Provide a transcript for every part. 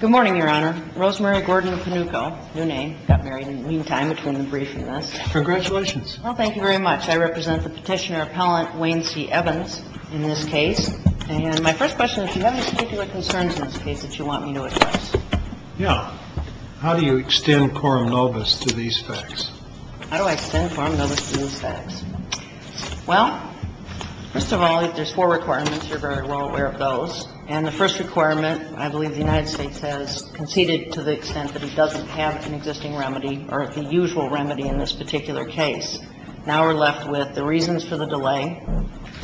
Good morning, Your Honor. Rosemary Gordon-Panucco, new name, got married in the meantime between the briefing and this. Congratulations. Well, thank you very much. I represent the Petitioner Appellant, Wayne C. Evans, in this case. And my first question is, do you have any particular concerns in this case that you want me to address? Yeah. How do you extend quorum nobis to these facts? How do I extend quorum nobis to these facts? Well, first of all, there's four requirements. You're very well aware of those. And the first requirement, I believe the United States has conceded to the extent that it doesn't have an existing remedy or the usual remedy in this particular case. Now we're left with the reasons for the delay,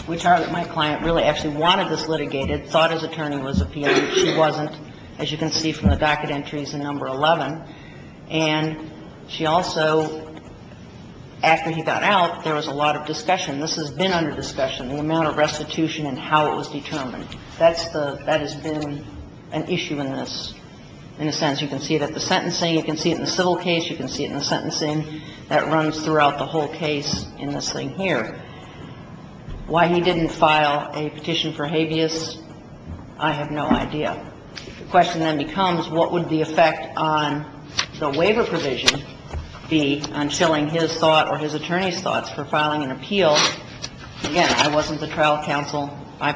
which are that my client really actually wanted this litigated, thought his attorney was a P.I., but she wasn't, as you can see from the docket entries in Number 11. And she also, after he got out, there was a lot of discussion. This has been under discussion, the amount of restitution and how it was determined. That's the – that has been an issue in this, in a sense. You can see it at the sentencing. You can see it in the civil case. You can see it in the sentencing. That runs throughout the whole case in this thing here. Why he didn't file a petition for habeas, I have no idea. The question then becomes, what would the effect on the waiver provision be on chilling his thought or his attorney's thoughts for filing an appeal? Again, I wasn't the trial counsel. I,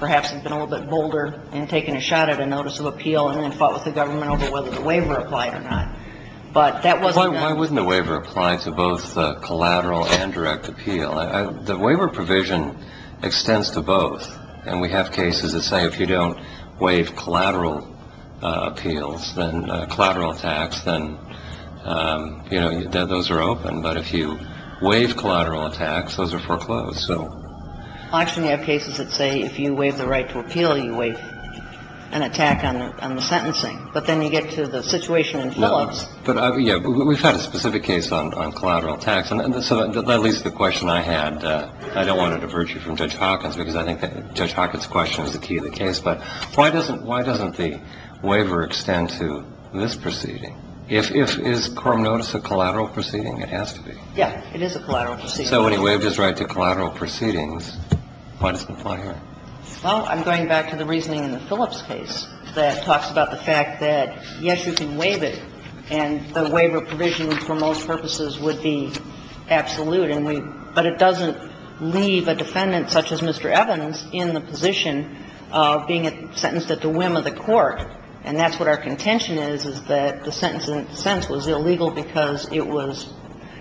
perhaps, have been a little bit bolder in taking a shot at a notice of appeal and then fought with the government over whether the waiver applied or not. But that wasn't a – Why wouldn't a waiver apply to both collateral and direct appeal? The waiver provision extends to both. And we have cases that say if you don't waive collateral appeals, then – collateral attacks, then, you know, those are open. But if you waive collateral attacks, those are foreclosed. So – Well, actually, you have cases that say if you waive the right to appeal, you waive an attack on the – on the sentencing. But then you get to the situation in Phillips. No. But, yeah, we've had a specific case on – on collateral attacks. And so that leads to the question I had. I don't want to diverge you from Judge Hawkins, because I think that Judge Hawkins' question is the key of the case. But why doesn't – why doesn't the waiver extend to this proceeding? If – if – is Coram Notice a collateral proceeding? It has to be. Yeah. It is a collateral proceeding. So when he waived his right to collateral proceedings, why doesn't it apply here? Well, I'm going back to the reasoning in the Phillips case that talks about the fact that, yes, you can waive it, and the waiver provision for most purposes would be absolute. And we – but it doesn't leave a defendant such as Mr. Evans in the position of being sentenced at the whim of the court. And that's what our contention is, is that the sentence in a sense was illegal because it was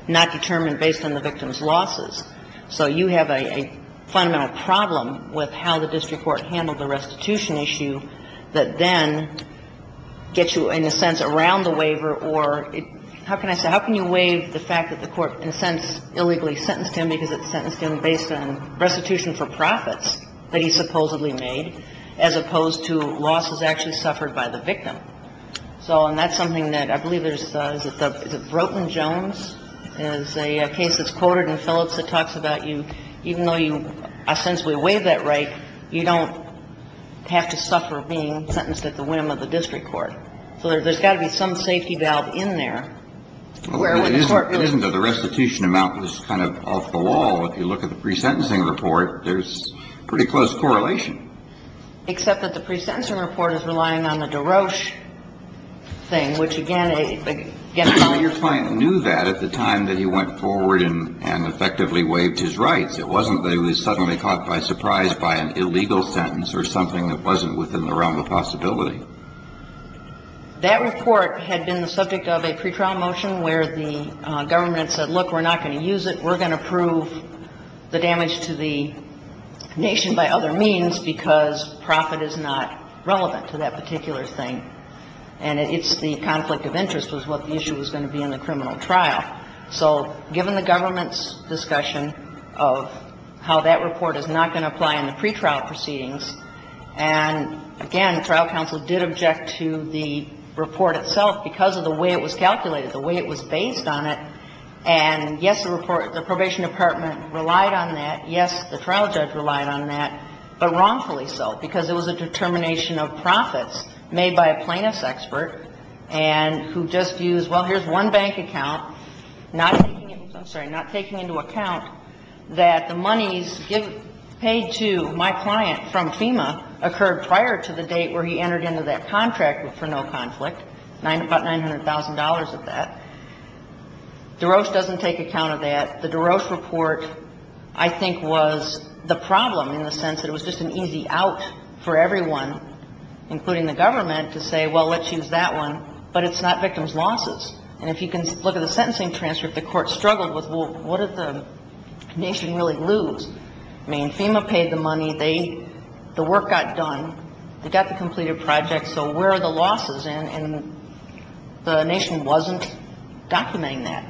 not determined based on the victim's losses. So you have a fundamental problem with how the district court handled the restitution issue that then gets you, in a sense, around the waiver or – how can I say? How can you waive the fact that the court, in a sense, illegally sentenced him because it sentenced him based on restitution for profits that he supposedly made as opposed to losses actually suffered by the victim? So – and that's something that I believe there's – is it the – is it Ropeland-Jones is a case that's quoted in Phillips that talks about you – even though you – since we waive that right, you don't have to suffer being sentenced at the whim of the district court. So there's got to be some safety valve in there where when the court really – Well, it isn't that the restitution amount was kind of off the wall. If you look at the pre-sentencing report, there's pretty close correlation. Except that the pre-sentencing report is relying on the DeRoche thing, which, again, a – again, a – Well, your client knew that at the time that he went forward and effectively waived his rights. It wasn't that he was suddenly caught by surprise by an illegal sentence or something that wasn't within the realm of possibility. That report had been the subject of a pretrial motion where the government said, look, we're not going to use it, we're going to prove the damage to the nation by other means, because profit is not relevant to that particular thing. And it's the conflict of interest was what the issue was going to be in the criminal trial. So given the government's discussion of how that report is not going to apply in the pretrial proceedings, and, again, the trial counsel did object to the report itself because of the way it was calculated, the way it was based on it, and, yes, the report – the probation department relied on that, yes, the trial judge relied on that, but wrongfully so, because it was a determination of profits made by a plaintiff's expert and who just used, well, here's one bank account, not taking into – I'm sorry, not taking into account that the monies paid to my client from FEMA occurred prior to the date where he entered into that contract for no conflict, about $900,000 of that. DeRoche doesn't take account of that. But the DeRoche report, I think, was the problem in the sense that it was just an easy out for everyone, including the government, to say, well, let's use that one, but it's not victims' losses. And if you can look at the sentencing transcript, the Court struggled with, well, what did the nation really lose? I mean, FEMA paid the money, they – the work got done, they got the completed project, so where are the losses? And the nation wasn't documenting that.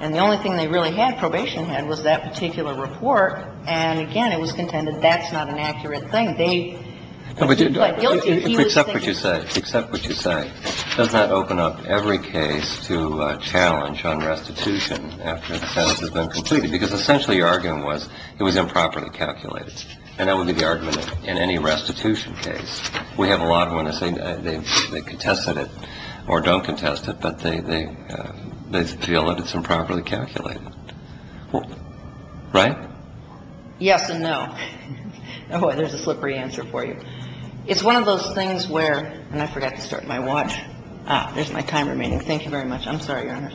And the only thing they really had, probation had, was that particular report. And, again, it was contended that's not an accurate thing. They – he was guilty, but he was thinking – But except what you say, except what you say, does that open up every case to challenge on restitution after the sentence has been completed? Because essentially your argument was it was improperly calculated. And that would be the argument in any restitution case. We have a lot of witnesses, they contested it or don't contest it, but they feel that it's improperly calculated. Right? Yes and no. There's a slippery answer for you. It's one of those things where – and I forgot to start my watch. There's my timer. Thank you very much. I'm sorry, Your Honor.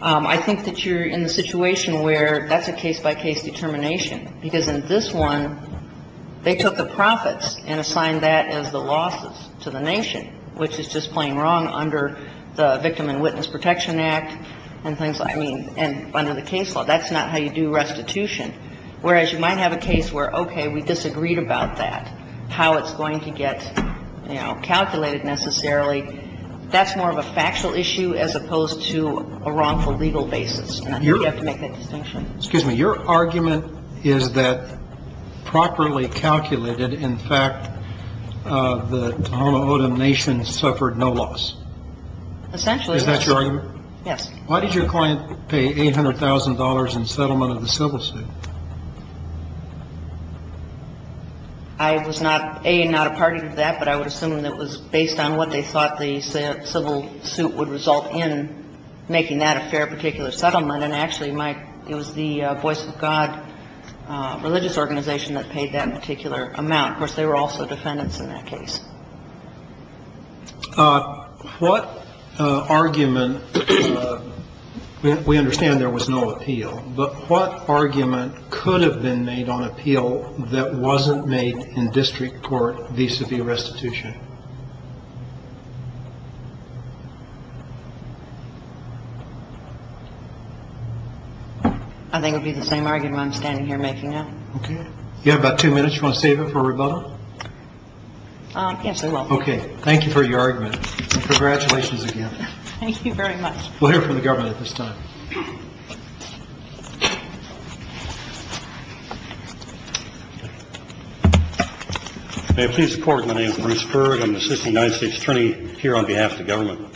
I think that you're in the situation where that's a case-by-case determination, because in this one, they took the profits and assigned that as the losses to the nation, which is just plain wrong under the Victim and Witness Protection Act and things like – I mean, and under the case law. That's not how you do restitution. Whereas you might have a case where, okay, we disagreed about that, how it's going to get, you know, calculated necessarily. That's more of a factual issue as opposed to a wrongful legal basis. And I think you have to make that distinction. Excuse me. Your argument is that properly calculated, in fact, the Tohono O'odham nation suffered no loss. Essentially. Is that your argument? Yes. Why did your client pay $800,000 in settlement of the civil suit? I was not – A, not a party to that, but I would assume that it was based on what they thought the civil suit would result in making that a fair particular settlement. And actually, my – it was the Voice of God religious organization that paid that particular amount. Of course, they were also defendants in that case. What argument – we understand there was no appeal, but what argument could have been made on appeal that wasn't made in district court vis-a-vis restitution? I think it would be the same argument I'm standing here making now. Okay. You have about two minutes. You want to save it for a rebuttal? Yes, I will. Okay. Thank you for your argument, and congratulations again. Thank you very much. We'll hear from the government at this time. May it please the Court, my name is Bruce Berg. I'm the assistant United States attorney here on behalf of the government.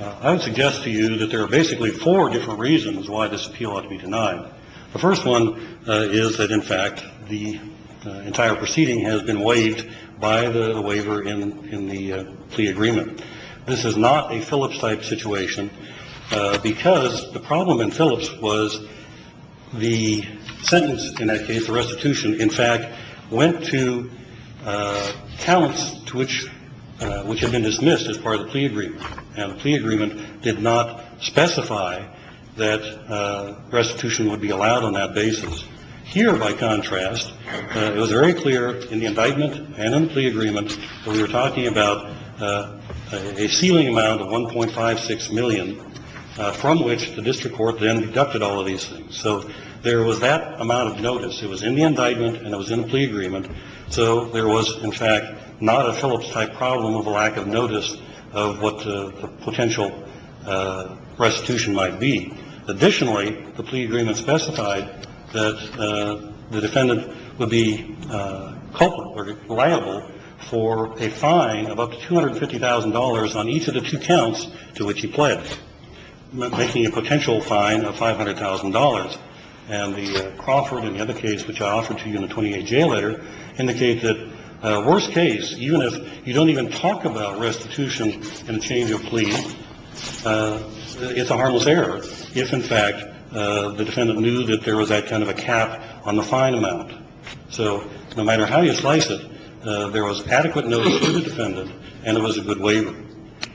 I would suggest to you that there are basically four different reasons why this appeal ought to be denied. The first one is that, in fact, the entire proceeding has been waived by the waiver in the plea agreement. This is not a Phillips-type situation because the problem in Phillips was the sentence in that case, the restitution, in fact, went to counts to which had been dismissed as part of the plea agreement. And the plea agreement did not specify that restitution would be allowed on that basis. Here, by contrast, it was very clear in the indictment and in the plea agreement that we were talking about a ceiling amount of $1.56 million from which the district court then deducted all of these things. So there was that amount of notice. It was in the indictment and it was in the plea agreement. So there was, in fact, not a Phillips-type problem of a lack of notice of what the potential restitution might be. Additionally, the plea agreement specified that the defendant would be culpable or liable for a fine of up to $250,000 on each of the two counts to which he pled, making a potential fine of $500,000. And the Crawford and the other case which I offered to you in the 28-J letter indicate that, worst case, even if you don't even talk about restitution in a change of plea, it's a harmless error if, in fact, the defendant knew that there was that kind of a cap on the fine amount. So no matter how you slice it, there was adequate notice to the defendant and it was a good waiver.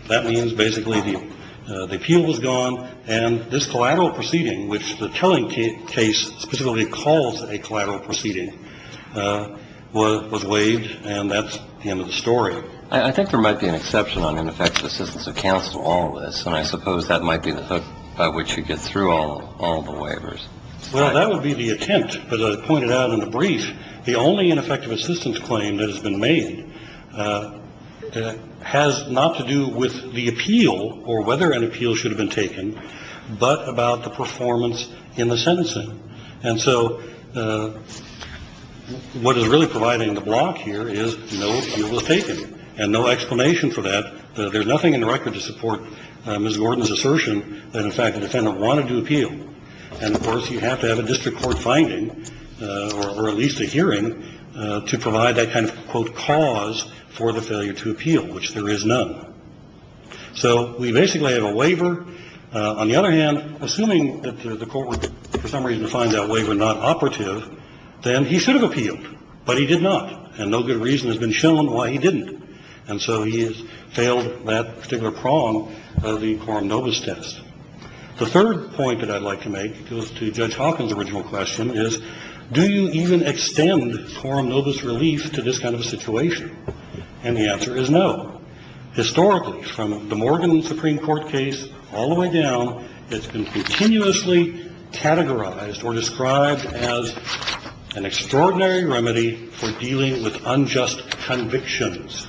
That means, basically, the appeal was gone and this collateral proceeding, which the telling case specifically calls a collateral proceeding, was waived and that's the end of the story. I think there might be an exception on ineffective assistance of counsel on all of this, and I suppose that might be the hook by which you get through all the waivers. Well, that would be the attempt. But as I pointed out in the brief, the only ineffective assistance claim that has been made has not to do with the appeal or whether an appeal should have been taken, but about the performance in the sentencing. And so what is really providing the block here is no appeal was taken and no explanation for that. There's nothing in the record to support Ms. Gordon's assertion that, in fact, the defendant wanted to appeal. And, of course, you have to have a district court finding or at least a hearing to provide that kind of, quote, cause for the failure to appeal, which there is none. So we basically have a waiver. On the other hand, assuming that the court would, for some reason, find that waiver not operative, then he should have appealed. But he did not, and no good reason has been shown why he didn't. And so he has failed that particular prong of the Quorum Novus test. The third point that I'd like to make goes to Judge Hawkins' original question is, do you even extend Quorum Novus relief to this kind of a situation? And the answer is no. Historically, from the Morgan Supreme Court case all the way down, it's been continuously categorized or described as an extraordinary remedy for dealing with unjust convictions.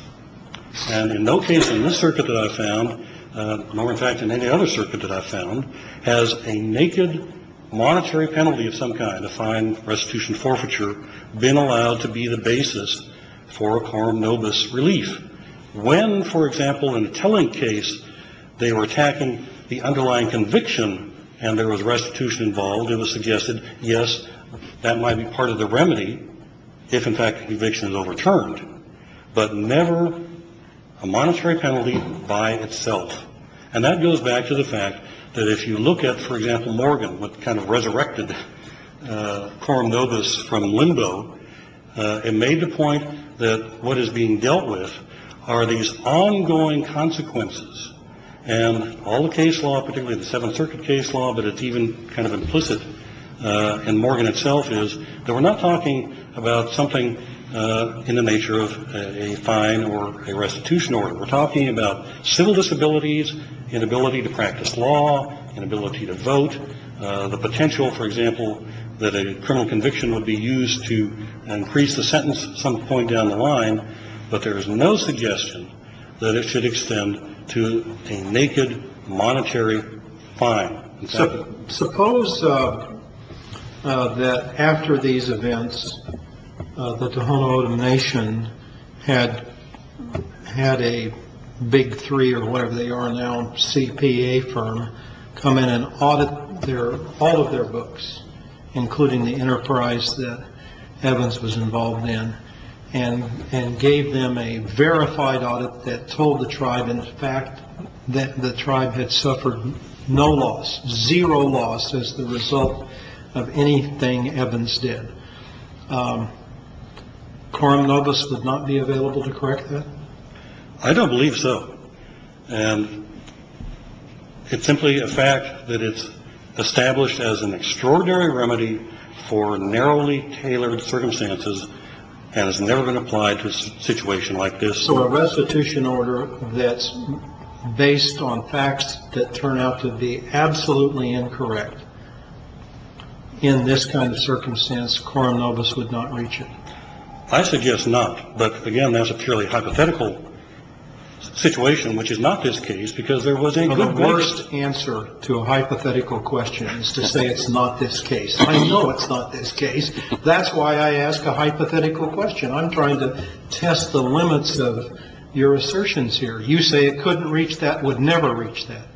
And in no case in this circuit that I've found, nor, in fact, in any other circuit that I've found, has a naked monetary penalty of some kind, a fine restitution forfeiture, been allowed to be the basis for a Quorum Novus relief. When, for example, in a telling case, they were attacking the underlying conviction and there was restitution involved, it was suggested, yes, that might be part of the remedy if, in fact, conviction is overturned, but never a monetary penalty by itself. And that goes back to the fact that if you look at, for example, Morgan, what kind of resurrected Quorum Novus from limbo, it made the point that what is being dealt with are these ongoing consequences. And all the case law, particularly the Seventh Circuit case law, but it's even kind of implicit in Morgan itself is that we're not talking about something in the nature of a fine or a restitution order. We're talking about civil disabilities, inability to practice law, inability to vote. The potential, for example, that a criminal conviction would be used to increase the sentence some point down the line. But there is no suggestion that it should extend to a naked monetary fine. Suppose that after these events, the Tohono O'odham Nation had had a big three or whatever they are now, CPA firm come in and audit all of their books, including the enterprise that Evans was involved in, and gave them a verified audit that told the tribe in fact that the tribe had suffered no loss, zero loss as the result of anything Evans did. Quorum Novus would not be available to correct that. I don't believe so. And it's simply a fact that it's established as an extraordinary remedy for narrowly tailored circumstances. And it's never been applied to a situation like this. So a restitution order that's based on facts that turn out to be absolutely incorrect. In this kind of circumstance, Quorum Novus would not reach it. I suggest not. But again, that's a purely hypothetical situation, which is not this case because there was a good worst answer to a hypothetical question is to say it's not this case. I know it's not this case. That's why I ask a hypothetical question. I'm trying to test the limits of your assertions here. You say it couldn't reach that, would never reach that.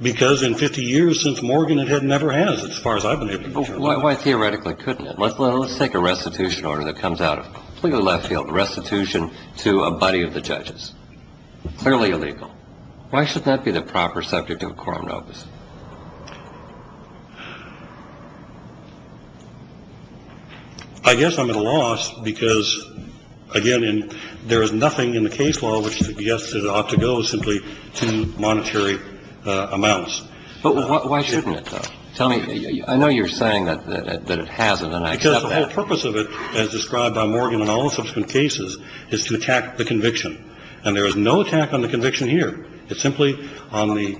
Because in 50 years since Morgan, it had never has as far as I've been able to go. Why theoretically couldn't it? Let's let's take a restitution order that comes out of the left field restitution to a buddy of the judges. I guess I'm at a loss because, again, there is nothing in the case law which suggests it ought to go simply to monetary amounts. But why shouldn't it? Tell me. I know you're saying that it hasn't. And I guess the whole purpose of it, as described by Morgan in all subsequent cases, is to attack the conviction. And there is no attack on the conviction here. It's simply on the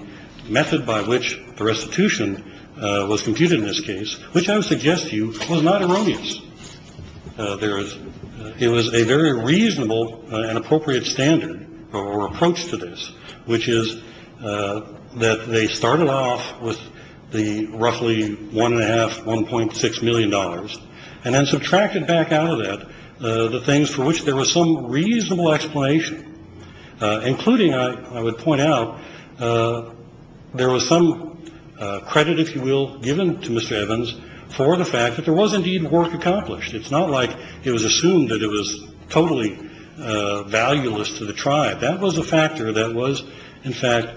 method by which the restitution was computed in this case, which I would suggest to you was not erroneous. There is it was a very reasonable and appropriate standard or approach to this, which is that they started off with the roughly one and a half, one point six million dollars, and then subtracted back out of that the things for which there was some reasonable explanation, including I would point out there was some credit, if you will, given to Mr. Evans for the fact that there was indeed work accomplished. It's not like it was assumed that it was totally valueless to the tribe. That was a factor that was, in fact,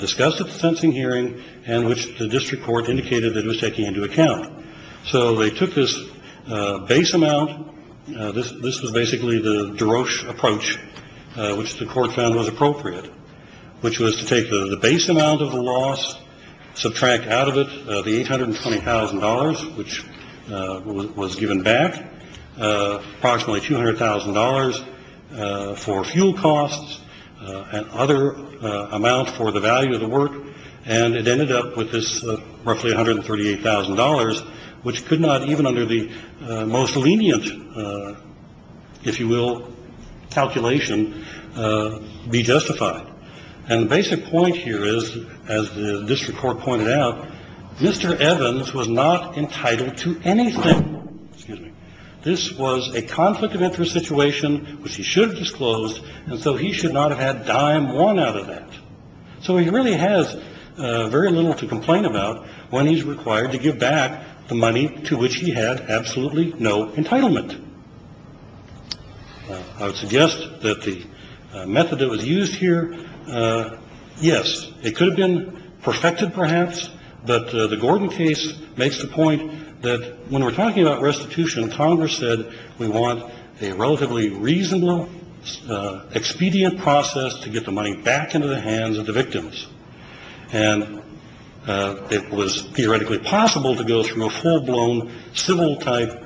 discussed at the sensing hearing and which the district court indicated that it was taking into account. So they took this base amount. This this was basically the Darosh approach, which the court found was appropriate, which was to take the base amount of the loss, subtract out of it the eight hundred and twenty thousand dollars, which was given back approximately two hundred thousand dollars for fuel costs and other amount for the value of the work. And it ended up with this roughly one hundred thirty eight thousand dollars, which could not even under the most lenient, if you will, calculation be justified. And the basic point here is, as the district court pointed out, Mr. Evans was not entitled to anything. This was a conflict of interest situation, which he should have disclosed. And so he should not have had dime one out of that. So he really has very little to complain about when he's required to give back the money to which he had absolutely no entitlement. I would suggest that the method that was used here. Yes, it could have been perfected, perhaps. But the Gordon case makes the point that when we're talking about restitution, Congress said we want a relatively reasonable expedient process to get the money back into the hands of the victims. And it was theoretically possible to go through a full blown civil type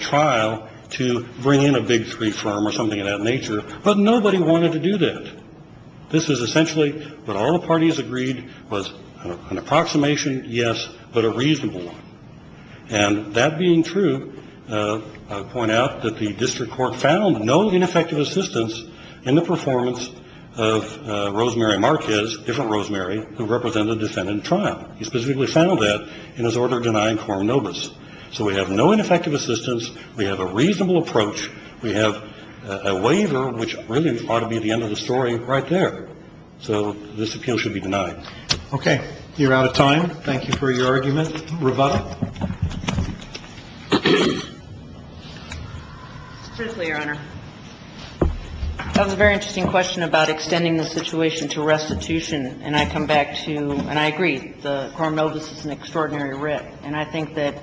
trial to bring in a big three firm or something of that nature. But nobody wanted to do that. This is essentially what all parties agreed was an approximation. Yes, but a reasonable one. And that being true, I'll point out that the district court found no ineffective assistance in the performance of Rosemary Marquez, different Rosemary, who represented the defendant in trial. He specifically found that in his order denying Coronobus. So we have no ineffective assistance. We have a reasonable approach. We have a waiver, which really ought to be the end of the story right there. So this appeal should be denied. Okay. You're out of time. Thank you for your argument. Rovada. Truthfully, Your Honor, that was a very interesting question about extending the situation to restitution. And I come back to, and I agree, the Coronobus is an extraordinary writ. And I think that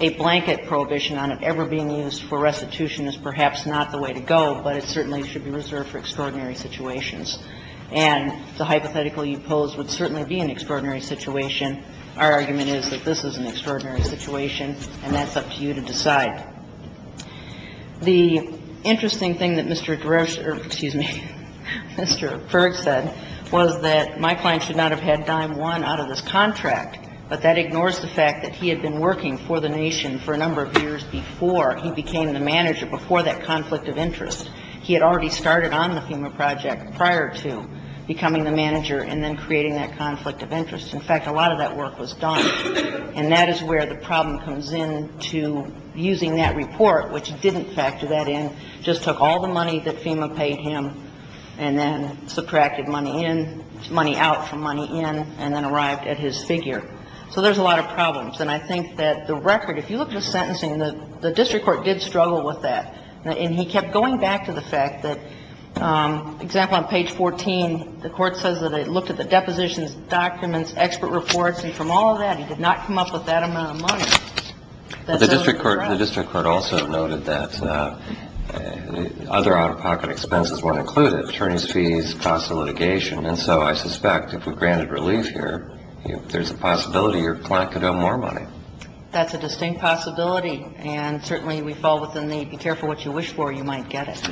a blanket prohibition on it ever being used for restitution is perhaps not the way to go, but it certainly should be reserved for extraordinary situations. And the hypothetical you pose would certainly be an extraordinary situation. Our argument is that this is an extraordinary situation, and that's up to you to decide. The interesting thing that Mr. Drescher or, excuse me, Mr. Ferg said was that my client should not have had dime one out of this contract, but that ignores the fact that he had been working for the nation for a number of years before he became the manager, before that conflict of interest. He had already started on the FEMA project prior to becoming the manager and then creating that conflict of interest. In fact, a lot of that work was done. And that is where the problem comes in to using that report, which didn't factor that in, just took all the money that FEMA paid him and then subtracted money in, money out from money in, and then arrived at his figure. So there's a lot of problems. And I think that the record, if you look at the sentencing, the district court did struggle with that. And he kept going back to the fact that, for example, on page 14, the court says that it looked at the depositions, documents, expert reports, and from all of that, he did not come up with that amount of money. That's so incorrect. The district court also noted that other out-of-pocket expenses weren't included, attorneys' fees, cost of litigation. And so I suspect if we granted relief here, there's a possibility your client could owe more money. That's a distinct possibility. And certainly, we fall within the be careful what you wish for, you might get it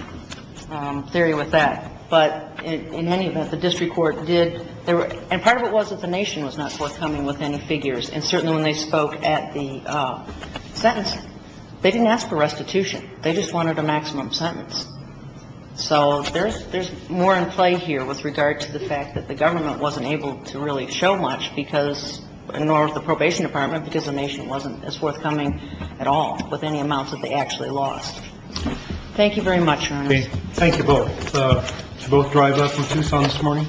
theory with that. But in any event, the district court did. And part of it was that the nation was not forthcoming with any figures. And certainly when they spoke at the sentencing, they didn't ask for restitution. They just wanted a maximum sentence. So there's more in play here with regard to the fact that the government wasn't as forthcoming at all with any amounts that they actually lost. Thank you very much, Your Honor. Thank you both. Did you both drive up from Tucson this morning?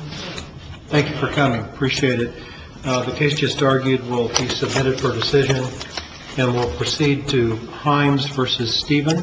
Thank you for coming. Appreciate it. The case just argued will be submitted for decision and will proceed to Himes v. Stephen.